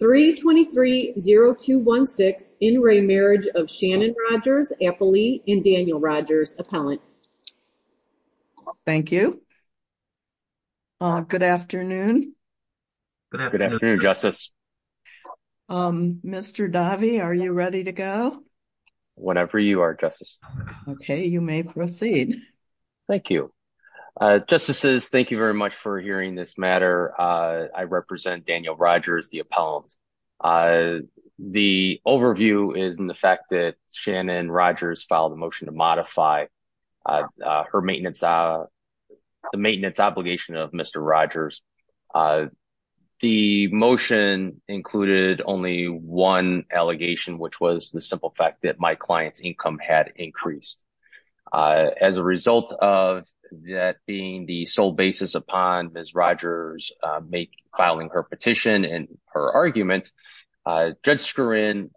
3230216, in re marriage of Shannon Rodgers, Applee, and Daniel Rodgers, Appellant. Thank you. Good afternoon. Good afternoon, Justice. Mr. Davi, are you ready to go? Whenever you are, Justice. Okay, you may proceed. Thank you. Justices, thank you very much for hearing this matter. I represent Daniel Rogers, the appellant. The overview is in the fact that Shannon Rogers filed a motion to modify her maintenance. The maintenance obligation of Mr. Rogers. The motion included only one allegation which was the simple fact that my client's income had increased. As a result of that being the sole basis upon Miss Rogers make filing her petition and her argument. Judge screw in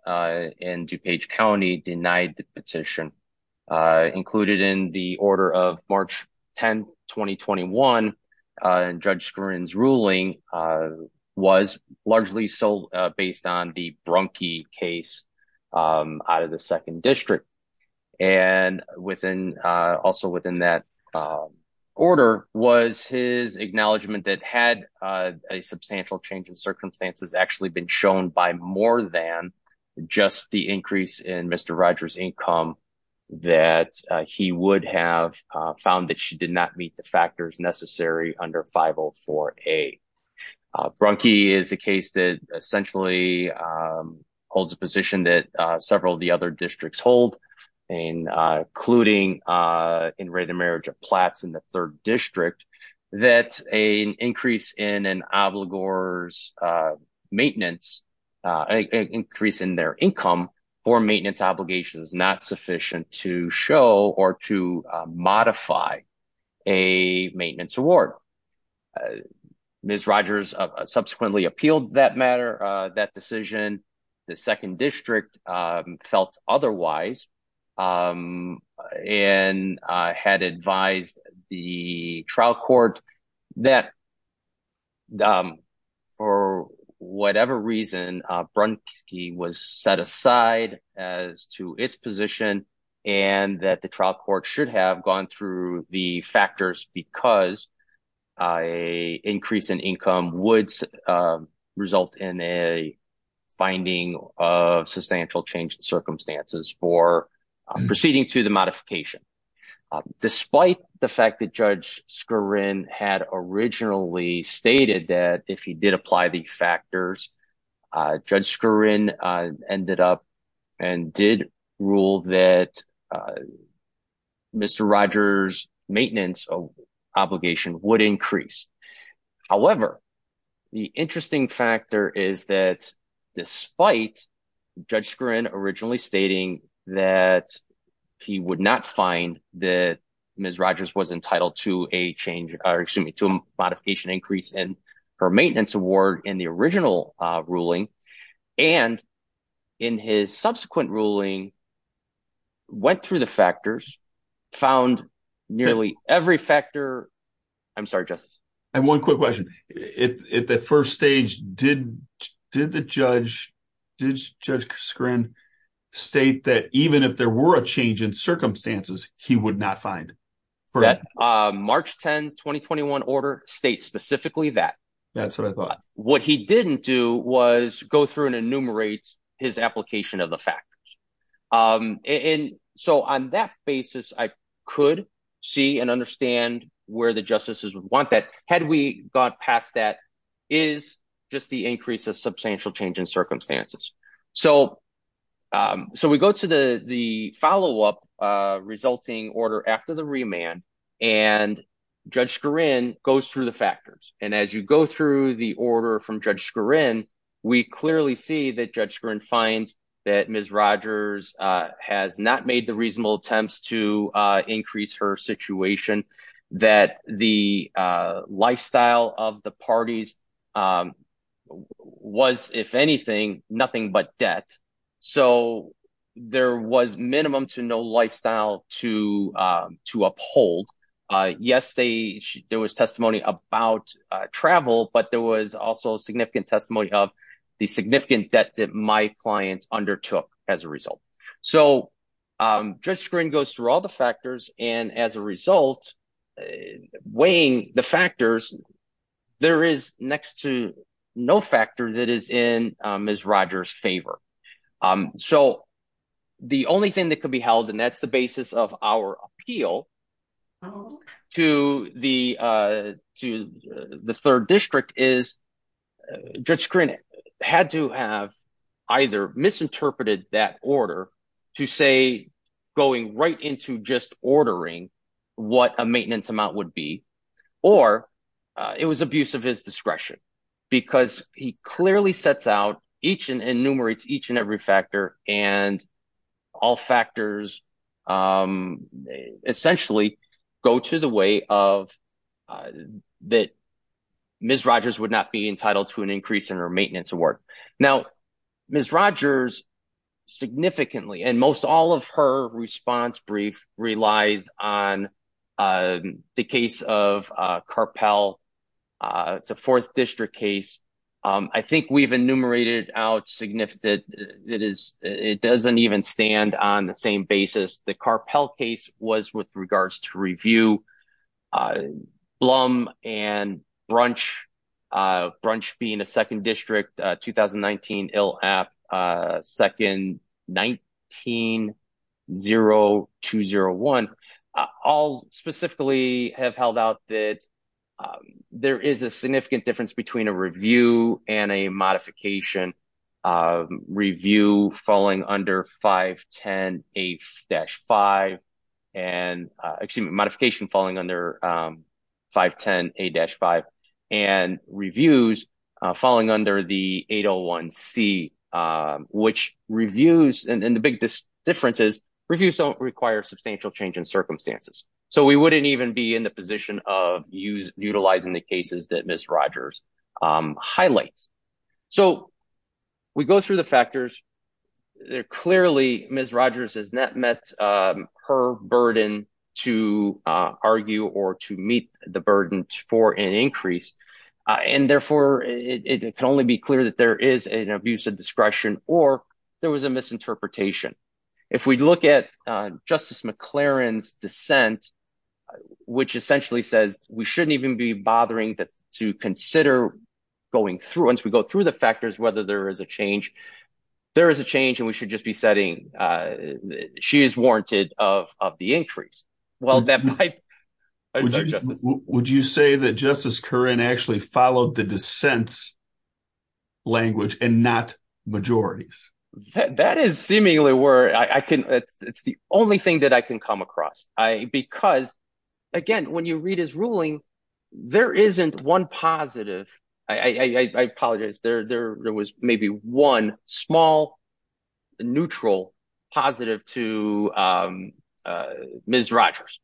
in DuPage County denied the petition, included in the order of March, 10 2021. And judge screens ruling was largely sold, based on the Brunke case out of the second district. And within also within that order was his acknowledgement that had a substantial change in circumstances actually been shown by more than just the increase in Mr. Rogers income that he would have found that she did not meet the factors necessary under 504 a Brunke is a case that essentially holds a position that several of the other districts hold. Miss Rogers subsequently appealed that matter that decision. The second district felt otherwise, and had advised the trial court that for whatever reason, Brunke was set aside as to its position, and that the trial court should have gone through the factors because a increase in income would result in a fine being of substantial change in circumstances for proceeding to the modification. Despite the fact that judge screw in had originally stated that if he did apply the factors. Judge screw in ended up and did rule that Mr Rogers maintenance obligation would increase. However, the interesting factor is that despite judge grin originally stating that he would not find that Miss Rogers was entitled to a change, or excuse me to modification increase in her maintenance award in the original ruling. And in his subsequent ruling, went through the factors found nearly every factor. I'm sorry, just one quick question. If the first stage did, did the judge. Did judge screen state that even if there were a change in circumstances, he would not find for March 10 2021 order state specifically that. That's what I thought, what he didn't do was go through and enumerate his application of the factors. And so on that basis, I could see and understand where the justices would want that had we got past that is just the increase of substantial change in circumstances. So, so we go to the, the follow up resulting order after the remand and judge score in goes through the factors, and as you go through the order from judge score in. We clearly see that judge screen finds that Miss Rogers has not made the reasonable attempts to increase her situation that the lifestyle of the parties was, if anything, nothing but debt. So, there was minimum to no lifestyle to to uphold. Yes, they, there was testimony about travel, but there was also a significant testimony of the significant debt that my clients undertook as a result. So, just screen goes through all the factors, and as a result, weighing the factors. There is next to no factor that is in Miss Rogers favor. So, the only thing that could be held and that's the basis of our appeal to the, to the third district is just screen had to have either misinterpreted that order to say, going right into just ordering. What a maintenance amount would be, or it was abuse of his discretion, because he clearly sets out each and enumerates each and every factor, and all factors, essentially, go to the way of that. Miss Rogers would not be entitled to an increase in her maintenance award. Now, Miss Rogers significantly and most all of her response brief relies on the case of carpel to fourth district case. I think we've enumerated out significant. It is. It doesn't even stand on the same basis the carpel case was with regards to review. Blum and brunch brunch being a second district 2019 ill app. Second, 19 0201 all specifically have held out that there is a significant difference between a review and a modification review falling under 510 a dash five. And excuse me modification falling under 510 a dash five and reviews, falling under the 801 C, which reviews and the big differences reviews don't require substantial change in circumstances, so we wouldn't even be in the position of use utilizing the cases that Miss Rogers highlights. So, we go through the factors there clearly Miss Rogers has not met her burden to argue or to meet the burden for an increase. And therefore, it can only be clear that there is an abuse of discretion, or there was a misinterpretation. If we look at Justice McLaren's dissent, which essentially says, we shouldn't even be bothering that to consider going through once we go through the factors, whether there is a change. There is a change and we should just be setting. She is warranted of the increase. Well, that might. Would you say that Justice current actually followed the dissents language and not majority. That is seemingly where I can. It's the only thing that I can come across I because, again, when you read his ruling. There isn't one positive. I apologize there there was maybe one small neutral positive to Miss Rogers.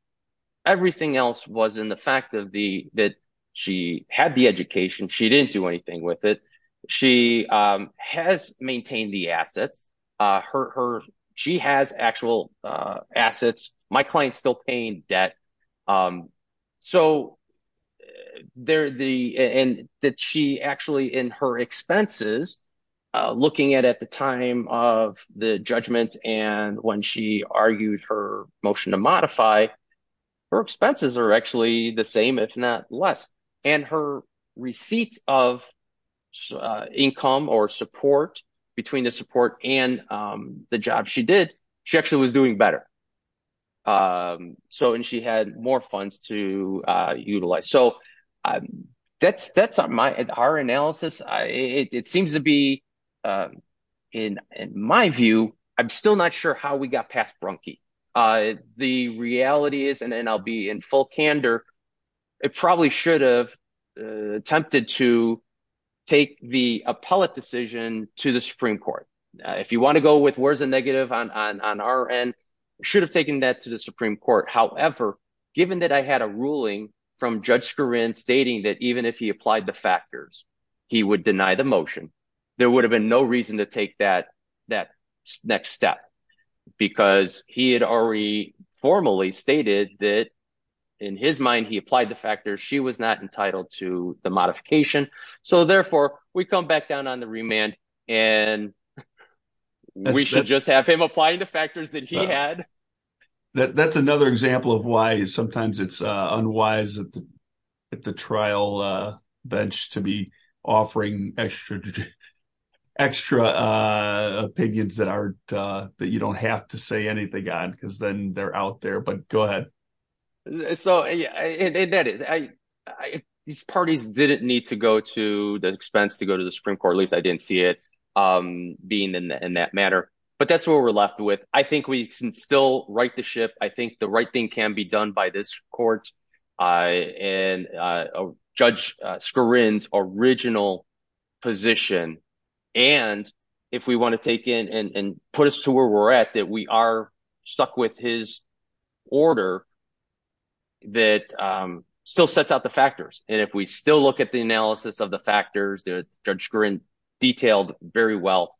Everything else was in the fact of the that she had the education. She didn't do anything with it. She has maintained the assets hurt her. She has actual assets. My client still paying debt. So, there the end that she actually in her expenses, looking at at the time of the judgment and when she argued her motion to modify her expenses are actually the same if not less, and her receipts of income or support between the support and the job she did, she actually was doing better. So, and she had more funds to utilize. So, that's, that's my at our analysis. I, it seems to be in my view, I'm still not sure how we got past Brunke. The reality is, and then I'll be in full candor. It probably should have attempted to take the appellate decision to the Supreme Court. If you want to go with where's the negative on our end should have taken that to the Supreme Court. However, given that I had a ruling from Judge Karin stating that even if he applied the factors, he would deny the motion. There would have been no reason to take that, that next step because he had already formally stated that in his mind, he applied the factors. She was not entitled to the modification. So, therefore, we come back down on the remand and we should just have him applying the factors that he had. That's another example of why sometimes it's unwise at the trial bench to be offering extra, extra opinions that aren't that you don't have to say anything on because then they're out there but go ahead. So, yeah, that is, I, these parties didn't need to go to the expense to go to the Supreme Court at least I didn't see it being in that manner, but that's what we're left with. I think we can still right the ship. I think the right thing can be done by this court. And if we want to take in and put us to where we're at, that we are stuck with his order that still sets out the factors. And if we still look at the analysis of the factors that Judge Karin detailed very well,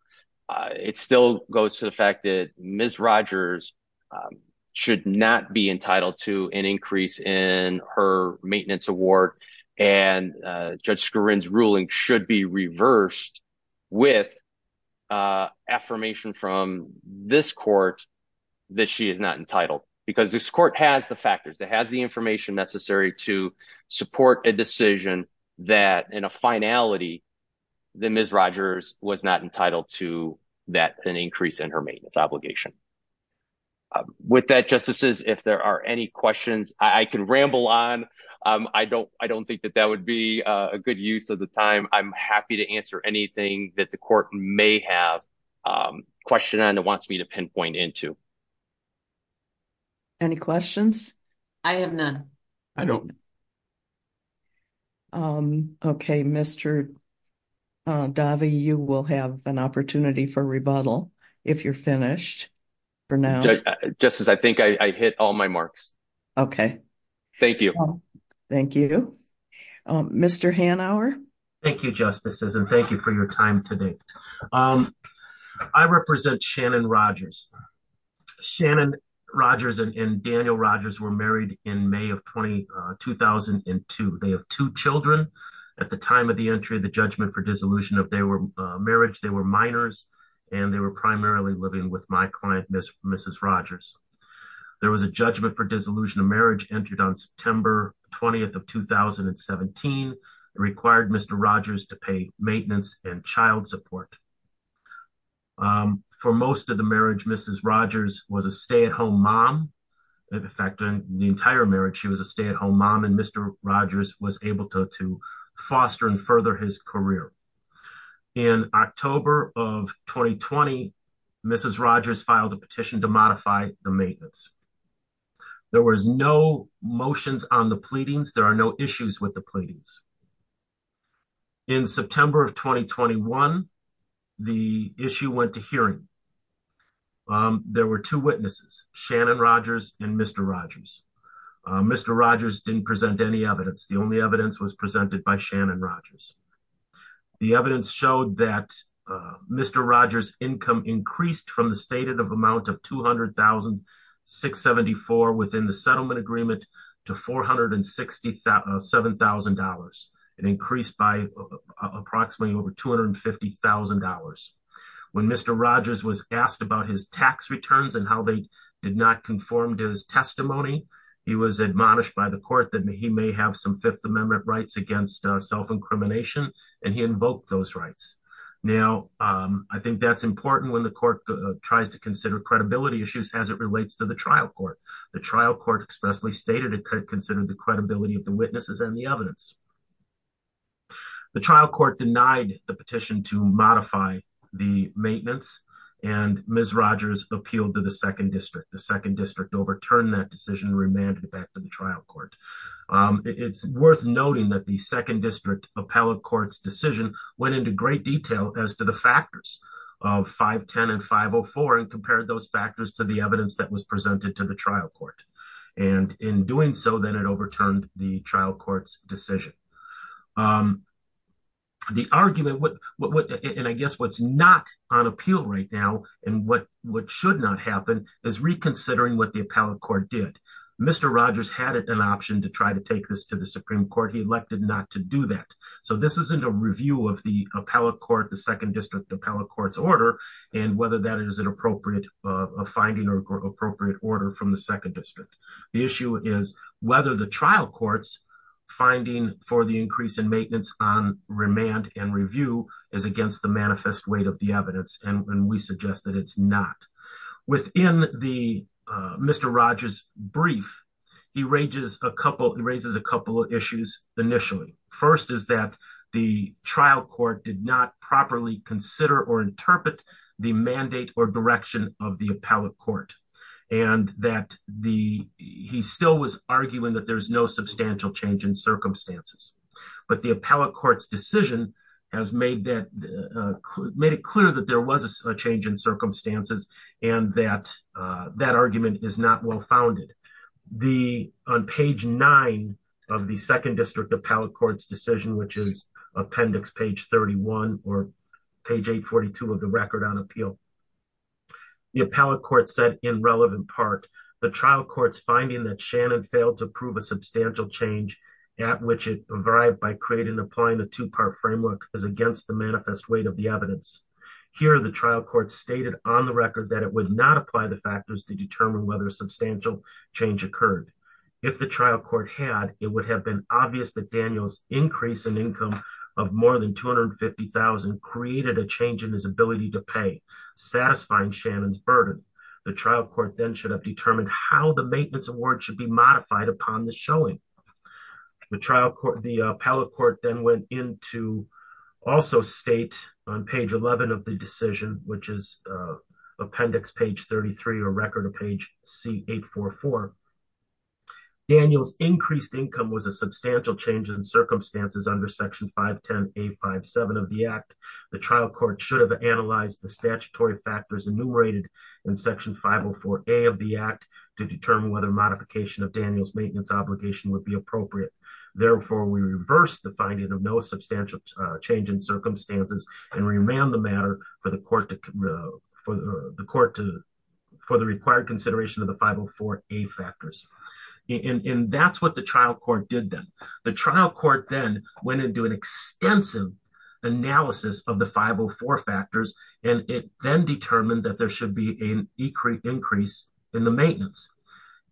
it still goes to the fact that Ms. Rogers should not be entitled to an increase in her remand. Her maintenance award and Judge Karin's ruling should be reversed with affirmation from this court that she is not entitled because this court has the factors that has the information necessary to support a decision that in a finality, the Ms. Rogers was not entitled to that an increase in her maintenance obligation. With that, Justices, if there are any questions I can ramble on. I don't, I don't think that that would be a good use of the time. I'm happy to answer anything that the court may have question on and wants me to pinpoint into. Any questions? I have none. I don't. Okay, Mr. Davi, you will have an opportunity for rebuttal if you're finished for now. Just as I think I hit all my marks. Okay. Thank you. Thank you. Mr. Hanauer. Thank you, Justices and thank you for your time today. I represent Shannon Rogers. Shannon Rogers and Daniel Rogers were married in May of 2002. They have two children. At the time of the entry of the judgment for dissolution of their marriage, they were minors, and they were primarily living with my client, Mrs. Rogers. There was a judgment for dissolution of marriage entered on September 20 of 2017 required Mr. Rogers to pay maintenance and child support. For most of the marriage, Mrs. Rogers was a stay at home mom. In fact, in the entire marriage, she was a stay at home mom and Mr. Rogers was able to foster and further his career. In October of 2020, Mrs. Rogers filed a petition to modify the maintenance. There was no motions on the pleadings, there are no issues with the pleadings. In September of 2021. The issue went to hearing. There were two witnesses, Shannon Rogers, and Mr. Rogers. Mr. Rogers didn't present any evidence the only evidence was presented by Shannon Rogers. The evidence showed that Mr. Rogers income increased from the stated amount of $200,674 within the settlement agreement to $467,000, an increase by approximately over $250,000. When Mr. Rogers was asked about his tax returns and how they did not conform to his testimony. He was admonished by the court that he may have some Fifth Amendment rights against self incrimination, and he invoked those rights. Now, I think that's important when the court tries to consider credibility issues as it relates to the trial court, the trial court expressly stated it could consider the credibility of the witnesses and the evidence. The trial court denied the petition to modify the maintenance and Ms. Rogers appealed to the second district, the second district overturned that decision remanded back to the trial court. It's worth noting that the second district appellate courts decision went into great detail as to the factors of 510 and 504 and compared those factors to the evidence that was presented to the trial court. And in doing so, then it overturned the trial court's decision. The argument what what what and I guess what's not on appeal right now, and what what should not happen is reconsidering what the appellate court did. Mr. Rogers had an option to try to take this to the Supreme Court he elected not to do that. So this isn't a review of the appellate court the second district appellate courts order, and whether that is an appropriate finding or appropriate order from the second district. The issue is whether the trial courts, finding for the increase in maintenance on remand and review is against the manifest weight of the evidence and when we suggest that it's not within the Mr Rogers brief. He raises a couple of issues. Initially, first is that the trial court did not properly consider or interpret the mandate or direction of the appellate court, and that the, he still was arguing that there's no substantial change in circumstances, but the on page nine of the second district appellate courts decision which is appendix page 31 or page 842 of the record on appeal. The appellate court said in relevant part, the trial courts finding that Shannon failed to prove a substantial change at which it arrived by creating applying the two part framework is against the manifest weight of the evidence. Here the trial court stated on the record that it would not apply the factors to determine whether substantial change occurred. If the trial court had, it would have been obvious that Daniels increase in income of more than 250,000 created a change in his ability to pay satisfying Shannon's burden. The trial court then should have determined how the maintenance award should be modified upon the showing the trial court the appellate court then went into. Also state on page 11 of the decision, which is appendix page 33 or record a page, see 844 Daniels increased income was a substantial change in circumstances under section 510 a 57 of the act, the trial court should have analyzed the statutory factors enumerated in section 504 a of the act to determine whether modification of Daniels maintenance obligation would be appropriate. Therefore, we reverse the finding of no substantial change in circumstances and remand the matter for the court to the court to for the required that there should be an increase in the maintenance.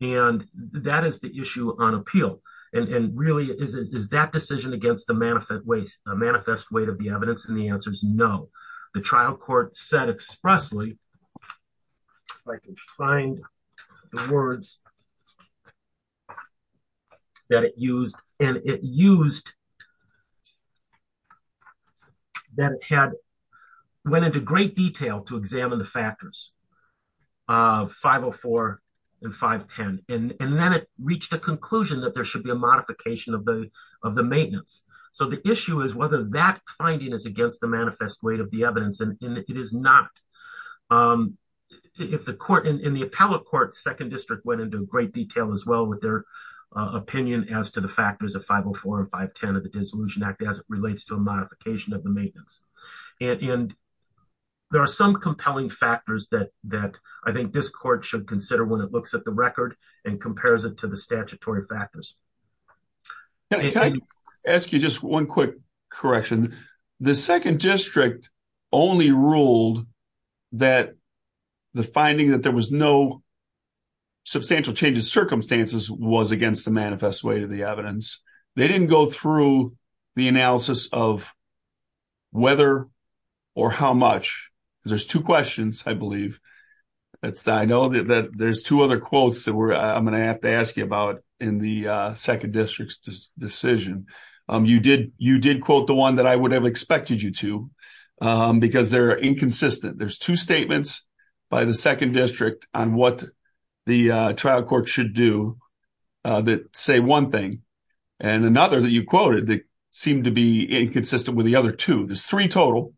And that is the issue on appeal, and really is that decision against the manifest waste a manifest way to be evidence and the answer is no. The trial court said expressly. I can find the words that it used, and it used that had went into great detail to examine the factors of 504 and 510, and then it reached a conclusion that there should be a modification of the of the maintenance. So the issue is whether that finding is against the manifest weight of the evidence and it is not. If the court in the appellate court second district went into great detail as well with their opinion as to the factors of 504 and 510 of the dissolution act as it relates to a modification of the maintenance. And there are some compelling factors that that I think this court should consider when it looks at the record and compares it to the statutory factors. Can I ask you just one quick correction? The second district only ruled that the finding that there was no. Substantial changes circumstances was against the manifest way to the evidence. They didn't go through the analysis of. Whether or how much there's 2 questions, I believe. It's I know that there's 2 other quotes that I'm going to have to ask you about in the 2nd district's decision. You did you did quote the 1 that I would have expected you to because they're inconsistent. There's 2 statements. By the 2nd district on what the trial court should do. That say 1 thing and another that you quoted, they seem to be inconsistent with the other 2. There's 3 total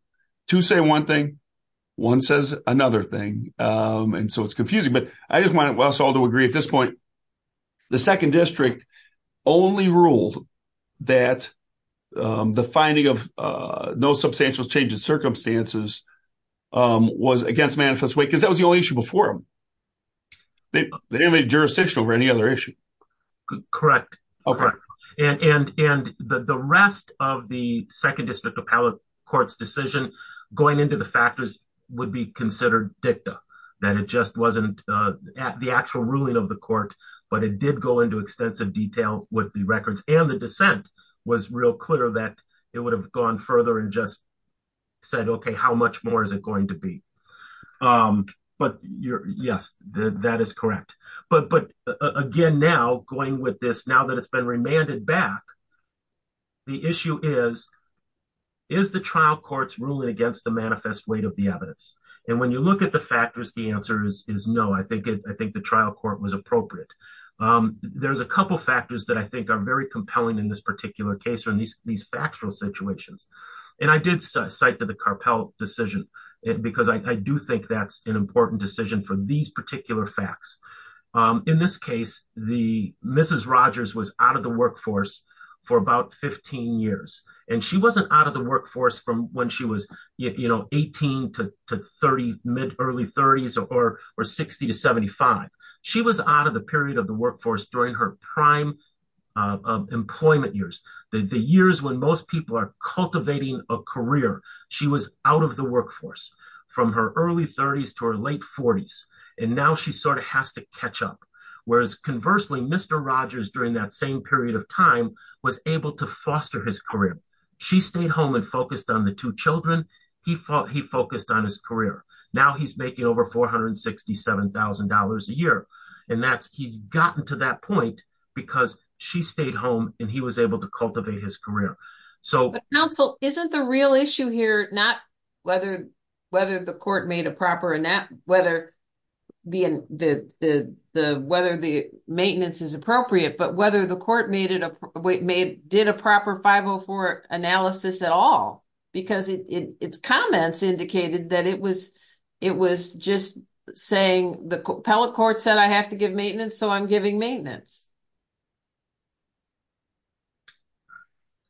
to say 1 thing. 1 says another thing, and so it's confusing, but I just wanted to agree at this point. The 2nd district only ruled that. The finding of no substantial changes circumstances. Was against manifest because that was the only issue before. They didn't make jurisdiction over any other issue. Correct. Okay. And the rest of the 2nd district appellate court's decision going into the factors would be considered dicta. That it just wasn't at the actual ruling of the court, but it did go into extensive detail with the records and the dissent was real clear that it would have gone further and just said, okay, how much more is it going to be? But you're yes, that is correct. But but again now going with this now that it's been remanded back. The issue is is the trial courts ruling against the manifest weight of the evidence. And when you look at the factors. The answer is no. I think I think the trial court was appropriate. There's a couple factors that I think are very compelling in this particular case from these these factual situations and I did cite to the carpel decision because I do think that's an important decision for these particular facts. In this case, the Mrs. Rogers was out of the workforce for about 15 years, and she wasn't out of the workforce from when she was, you know, 18 to 30 mid early 30s or 60 to 75. She was out of the period of the workforce during her prime employment years, the years when most people are cultivating a career. She was out of the workforce from her early 30s to her late 40s. And now she sort of has to catch up. Whereas conversely, Mr. Rogers during that same period of time was able to foster his career. She stayed home and focused on the two children. He fought he focused on his career. Now he's making over $467,000 a year. And that's he's gotten to that point, because she stayed home, and he was able to cultivate his career. So, isn't the real issue here, not whether, whether the court made a proper and that whether the, the, the, whether the maintenance is appropriate, but whether the court made it did a proper 504 analysis at all. Because it's comments indicated that it was, it was just saying the appellate court said I have to give maintenance. So I'm giving maintenance.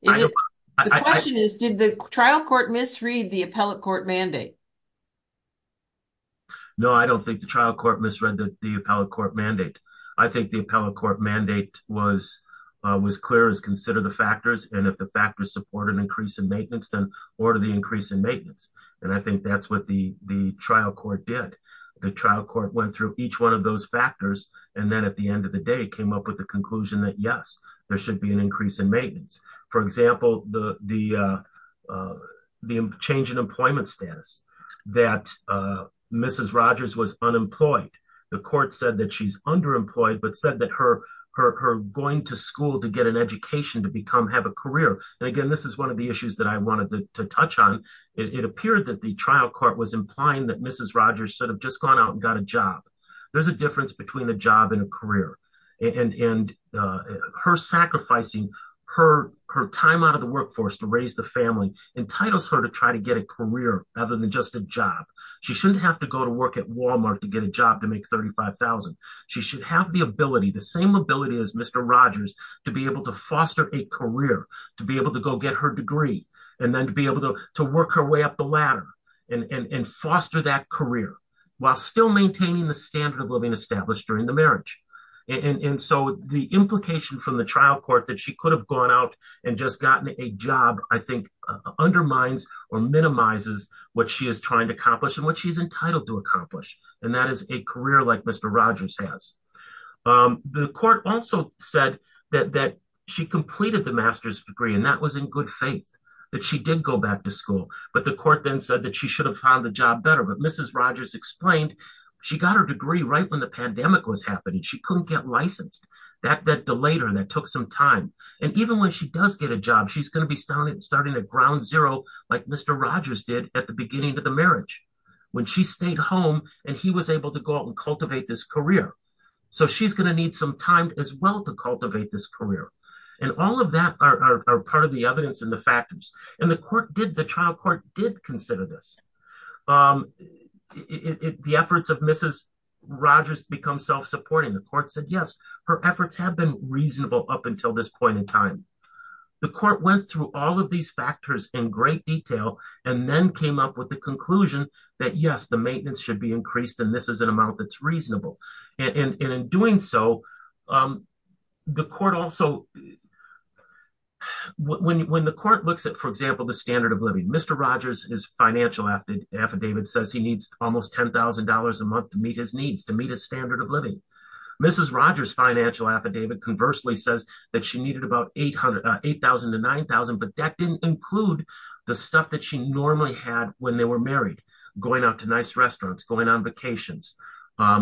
Did the trial court misread the appellate court mandate. No, I don't think the trial court misread that the appellate court mandate. I think the appellate court mandate was was clear as consider the factors and if the factors support an increase in maintenance, then order the increase in maintenance. And I think that's what the, the trial court did the trial court went through each one of those factors, and then at the end of the day came up with the conclusion that yes, there should be an increase in maintenance. For example, the, the, the change in employment status that Mrs Rogers was unemployed. The court said that she's underemployed but said that her, her going to school to get an education to become have a career. And again, this is one of the issues that I wanted to touch on. It appeared that the trial court was implying that Mrs Rogers should have just gone out and got a job. There's a difference between a job and a career, and her sacrificing her, her time out of the workforce to raise the family entitles her to try to get a career, other than just a job. She shouldn't have to go to work at Walmart to get a job to make 35,000, she should have the ability the same ability as Mr Rogers, to be able to foster a career to be able to go get her degree, and then to be able to work her way up the ladder and foster that career, while still maintaining the standard of living established during the marriage. And so the implication from the trial court that she could have gone out and just gotten a job, I think, undermines or minimizes what she is trying to accomplish and what she's entitled to accomplish. And that is a career like Mr Rogers has. The court also said that she completed the master's degree and that was in good faith that she did go back to school, but the court then said that she should have found the job better but Mrs Rogers explained, she got her degree right when the pandemic was happening she couldn't get licensed that that delayed her and that took some time. And even when she does get a job she's going to be starting starting at ground zero, like Mr Rogers did at the beginning of the marriage. When she stayed home, and he was able to go out and cultivate this career. So she's going to need some time as well to cultivate this career. And all of that are part of the evidence and the factors, and the court did the trial court did consider this. The efforts of Mrs. Rogers become self supporting the court said yes, her efforts have been reasonable up until this point in time. The court went through all of these factors in great detail, and then came up with the conclusion that yes the maintenance should be increased and this is an amount that's reasonable. And in doing so, the court also when the court looks at for example the standard of living Mr Rogers is financial after affidavit says he needs almost $10,000 a month to meet his needs to meet a standard of living. Mrs Rogers financial affidavit conversely says that she needed about 800 8000 to 9000 but that didn't include the stuff that she normally had when they were married, going out to nice restaurants going on vacations. All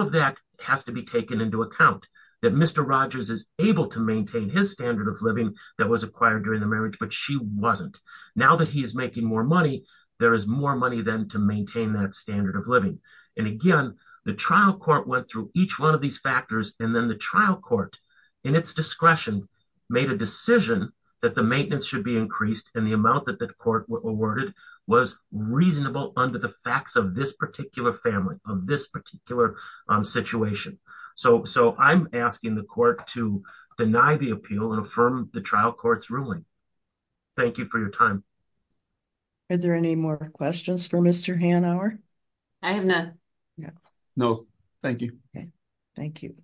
of that has to be taken into account that Mr Rogers is able to maintain his standard of living that was acquired during the marriage but she wasn't. Now that he is making more money. There is more money than to maintain that standard of living. And again, the trial court went through each one of these factors, and then the trial court in its discretion, made a decision that the maintenance should be increased and the amount that the court awarded was reasonable under the facts of this particular family of this particular situation. So, so I'm asking the court to deny the appeal and affirm the trial courts ruling. Thank you for your time. Are there any more questions for Mr Hanauer. I have no. No, thank you. Thank you,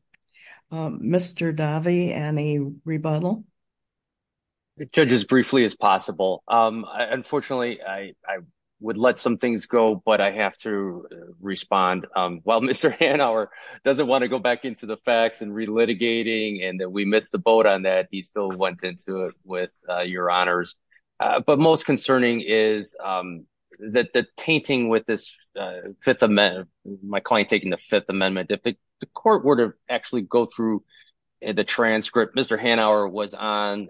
Mr Davi and a rebuttal. Judge as briefly as possible. Unfortunately, I would let some things go but I have to respond. Well Mr Hanauer doesn't want to go back into the facts and relitigating and that we missed the boat on that he still went into it with your honors. But most concerning is that the tainting with this fifth amendment, my client taking the Fifth Amendment if the court were to actually go through the transcript Mr Hanauer was on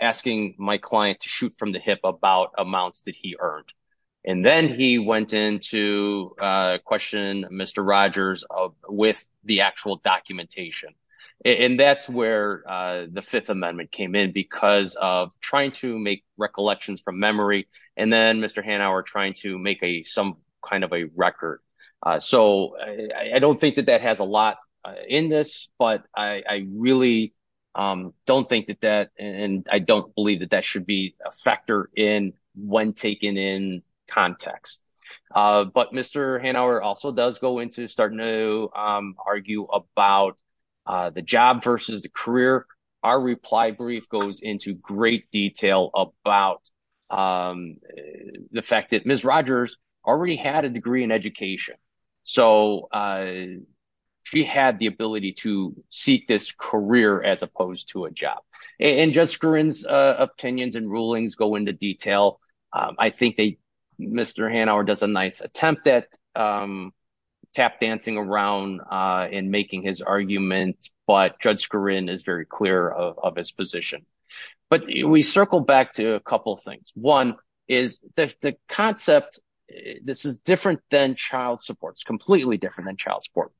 asking my client to shoot from the hip about amounts that he earned. And then he went into question, Mr Rogers of with the actual documentation. And that's where the Fifth Amendment came in because of trying to make recollections from memory, and then Mr Hanauer trying to make a some kind of a record. So, I don't think that that has a lot in this, but I really don't think that that, and I don't believe that that should be a factor in when taken in context. But Mr Hanauer also does go into starting to argue about the job versus the career. Our reply brief goes into great detail about the fact that Miss Rogers already had a degree in education. So, she had the ability to seek this career as opposed to a job, and Jessica runs opinions and rulings go into detail. I think they, Mr Hanauer does a nice attempt that tap dancing around in making his argument, but judge screen is very clear of his position. But we circle back to a couple things. One is the concept. This is different than child supports, completely different than child support.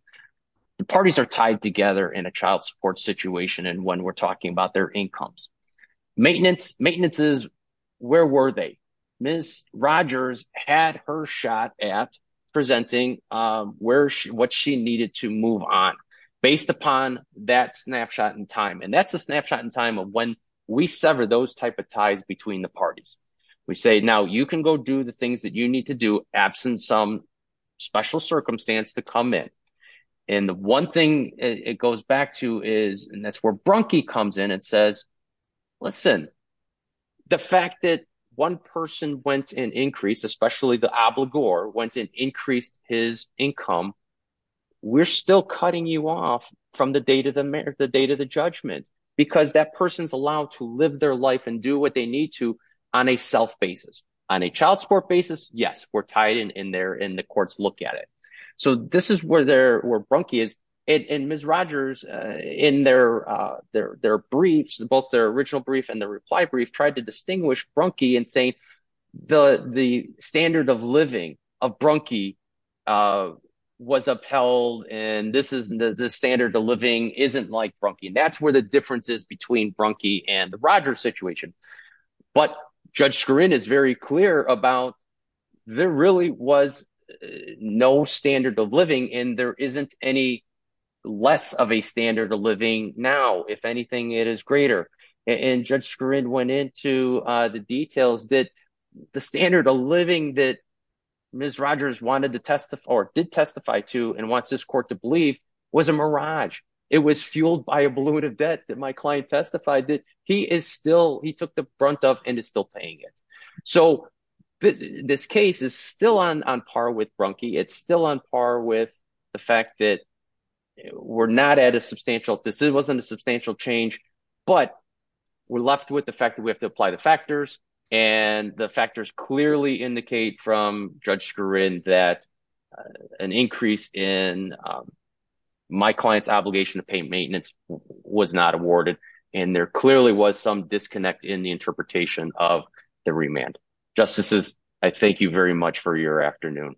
The parties are tied together in a child support situation and when we're talking about their incomes. Maintenance is where were they? Miss Rogers had her shot at presenting what she needed to move on based upon that snapshot in time, and that's a snapshot in time of when we sever those type of ties between the parties. We say, now you can go do the things that you need to do absent some special circumstance to come in. And the one thing it goes back to is, and that's where Brunke comes in and says, listen, the fact that one person went and increased, especially the obligor went and increased his income. We're still cutting you off from the date of the judgment because that person's allowed to live their life and do what they need to on a self basis. On a child support basis, yes, we're tied in there and the courts look at it. So this is where Brunke is. And Miss Rogers in their briefs, both their original brief and the reply brief, tried to distinguish Brunke and say the standard of living of Brunke was upheld and this is the standard of living isn't like Brunke. And that's where the difference is between Brunke and the Rogers situation. But Judge Skurin is very clear about there really was no standard of living and there isn't any less of a standard of living now, if anything, it is greater. And Judge Skurin went into the details that the standard of living that Miss Rogers wanted to testify or did testify to and wants this court to believe was a mirage. It was fueled by a balloon of debt that my client testified that he is still, he took the brunt of and is still paying it. So this case is still on par with Brunke. It's still on par with the fact that we're not at a substantial, this wasn't a substantial change, but we're left with the fact that we have to apply the factors and the factors clearly indicate from Judge Skurin that an increase in my client's obligation to pay maintenance was not awarded. And there clearly was some disconnect in the interpretation of the remand. Justices, I thank you very much for your afternoon.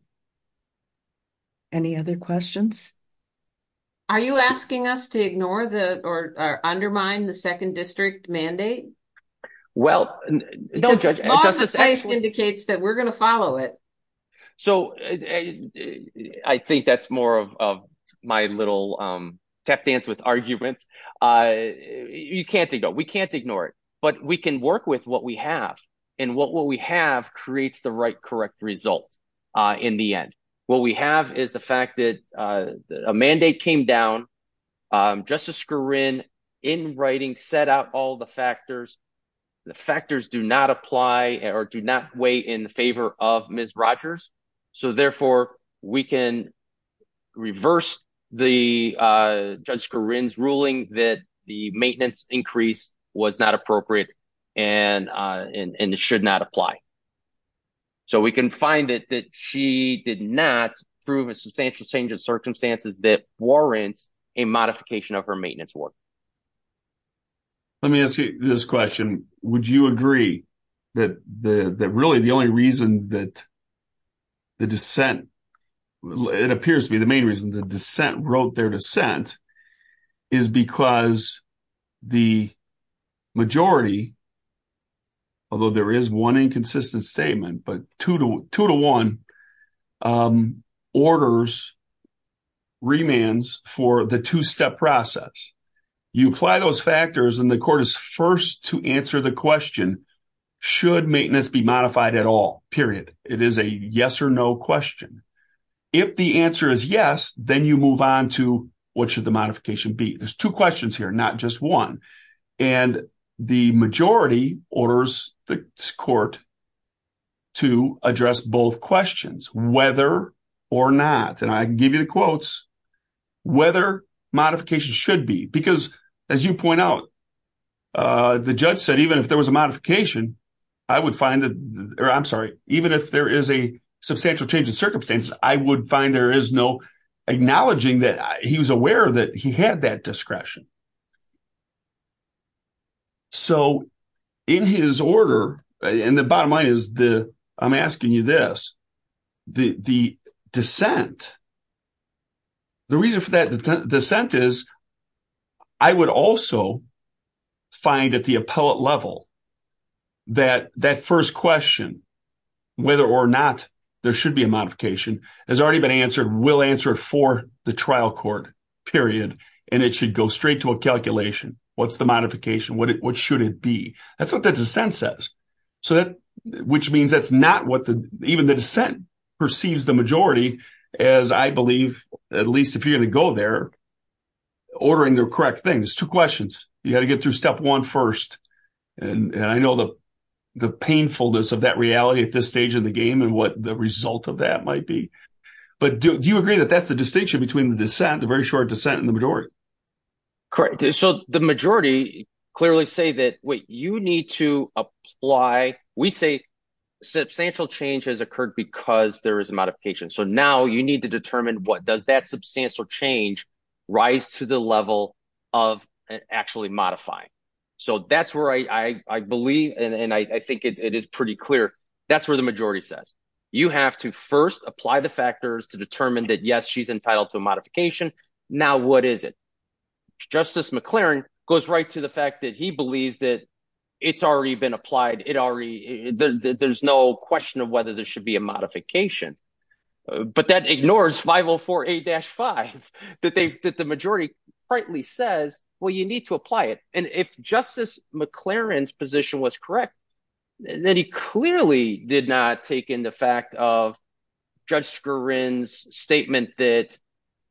Any other questions? Are you asking us to ignore the or undermine the second district mandate? Well, don't judge. The law of the place indicates that we're going to follow it. So I think that's more of my little tap dance with arguments. You can't ignore, we can't ignore it, but we can work with what we have and what we have creates the right, correct results. What we have is the fact that a mandate came down. Justice Skurin, in writing, set out all the factors. The factors do not apply or do not weigh in favor of Ms. Rogers. So, therefore, we can reverse the Judge Skurin's ruling that the maintenance increase was not appropriate and it should not apply. So we can find it that she did not prove a substantial change in circumstances that warrants a modification of her maintenance award. Let me ask you this question. Would you agree that really the only reason that the dissent, it appears to be the main reason the dissent wrote their dissent, is because the majority, although there is one inconsistent statement, but two to one, orders remands for the two-step process. You apply those factors and the court is first to answer the question, should maintenance be modified at all, period. It is a yes or no question. If the answer is yes, then you move on to what should the modification be. There's two questions here, not just one. And the majority orders the court to address both questions, whether or not, and I can give you the quotes, whether modification should be. Because as you point out, the judge said, even if there was a modification, I would find that, or I'm sorry, even if there is a substantial change in circumstance, I would find there is no acknowledging that he was aware that he had that discretion. So, in his order, and the bottom line is, I'm asking you this, the dissent, the reason for that dissent is, I would also find at the appellate level, that that first question, whether or not there should be a modification, has already been answered, will answer for the trial court, period. And it should go straight to a calculation. What's the modification? What should it be? That's what the dissent says. So that, which means that's not what the, even the dissent perceives the majority as, I believe, at least if you're going to go there, ordering the correct things. Two questions. You got to get through step one first. And I know the painfulness of that reality at this stage of the game and what the result of that might be. But do you agree that that's the distinction between the dissent, the very short dissent, and the majority? Correct. So the majority clearly say that what you need to apply, we say substantial change has occurred because there is a modification. So now you need to determine what does that substantial change rise to the level of actually modifying. So that's where I believe, and I think it is pretty clear, that's where the majority says. You have to first apply the factors to determine that, yes, she's entitled to a modification. Now, what is it? Justice McClaren goes right to the fact that he believes that it's already been applied. There's no question of whether there should be a modification. But that ignores 504A-5, that the majority rightly says, well, you need to apply it. And if Justice McClaren's position was correct, then he clearly did not take into fact of Judge Skurin's statement that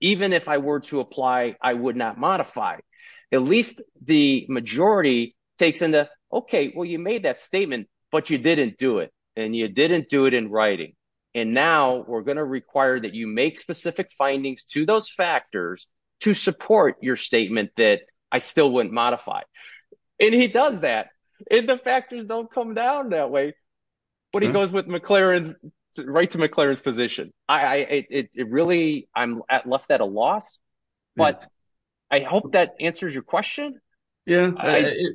even if I were to apply, I would not modify. At least the majority takes into, OK, well, you made that statement, but you didn't do it, and you didn't do it in writing. And now we're going to require that you make specific findings to those factors to support your statement that I still wouldn't modify. And he does that, and the factors don't come down that way. But he goes with McClaren's – right to McClaren's position. It really – I'm left at a loss. But I hope that answers your question. I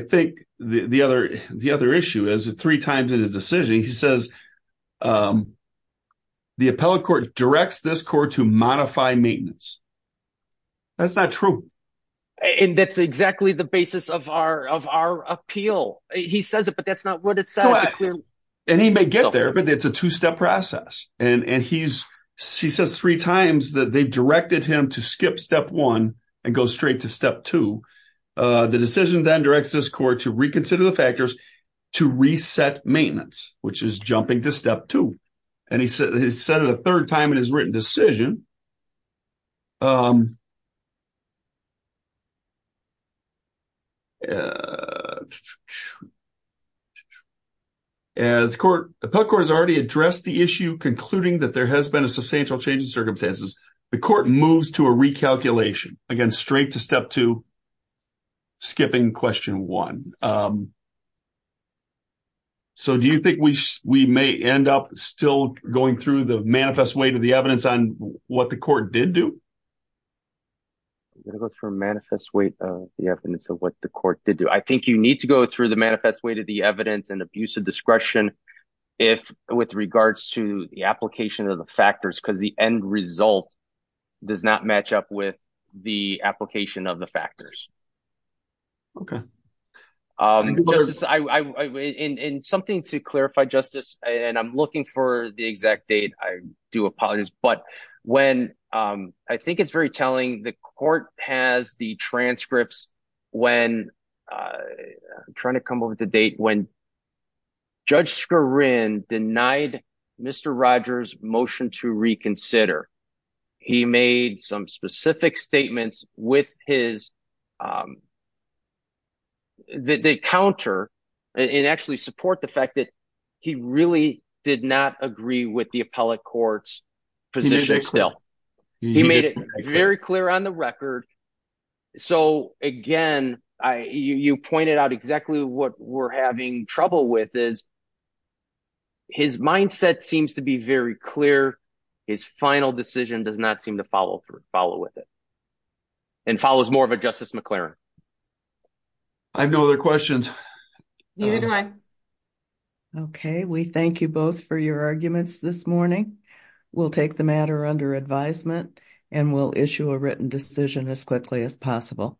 think the other issue is three times in his decision he says the appellate court directs this court to modify maintenance. That's not true. And that's exactly the basis of our appeal. He says it, but that's not what it says. And he may get there, but it's a two-step process. And he says three times that they directed him to skip step one and go straight to step two. The decision then directs this court to reconsider the factors to reset maintenance, which is jumping to step two. And he said it a third time in his written decision. As the court – appellate court has already addressed the issue, concluding that there has been a substantial change in circumstances. The court moves to a recalculation, again, straight to step two, skipping question one. So do you think we may end up still going through the manifest weight of the evidence on what the court did do? I'm going to go through the manifest weight of the evidence of what the court did do. I think you need to go through the manifest weight of the evidence and abuse of discretion with regards to the application of the factors because the end result does not match up with the application of the factors. Okay. Justice, in something to clarify, Justice, and I'm looking for the exact date. I do apologize. But when – I think it's very telling. The court has the transcripts when – I'm trying to come up with the date. When Judge Skarin denied Mr. Rogers' motion to reconsider, he made some specific statements with his – that counter and actually support the fact that he really did not agree with the appellate court's position still. He made it very clear on the record. So, again, you pointed out exactly what we're having trouble with is his mindset seems to be very clear. His final decision does not seem to follow with it and follows more of a Justice McLaren. I have no other questions. Neither do I. Okay. We thank you both for your arguments this morning. We'll take the matter under advisement and we'll issue a written decision as quickly as possible.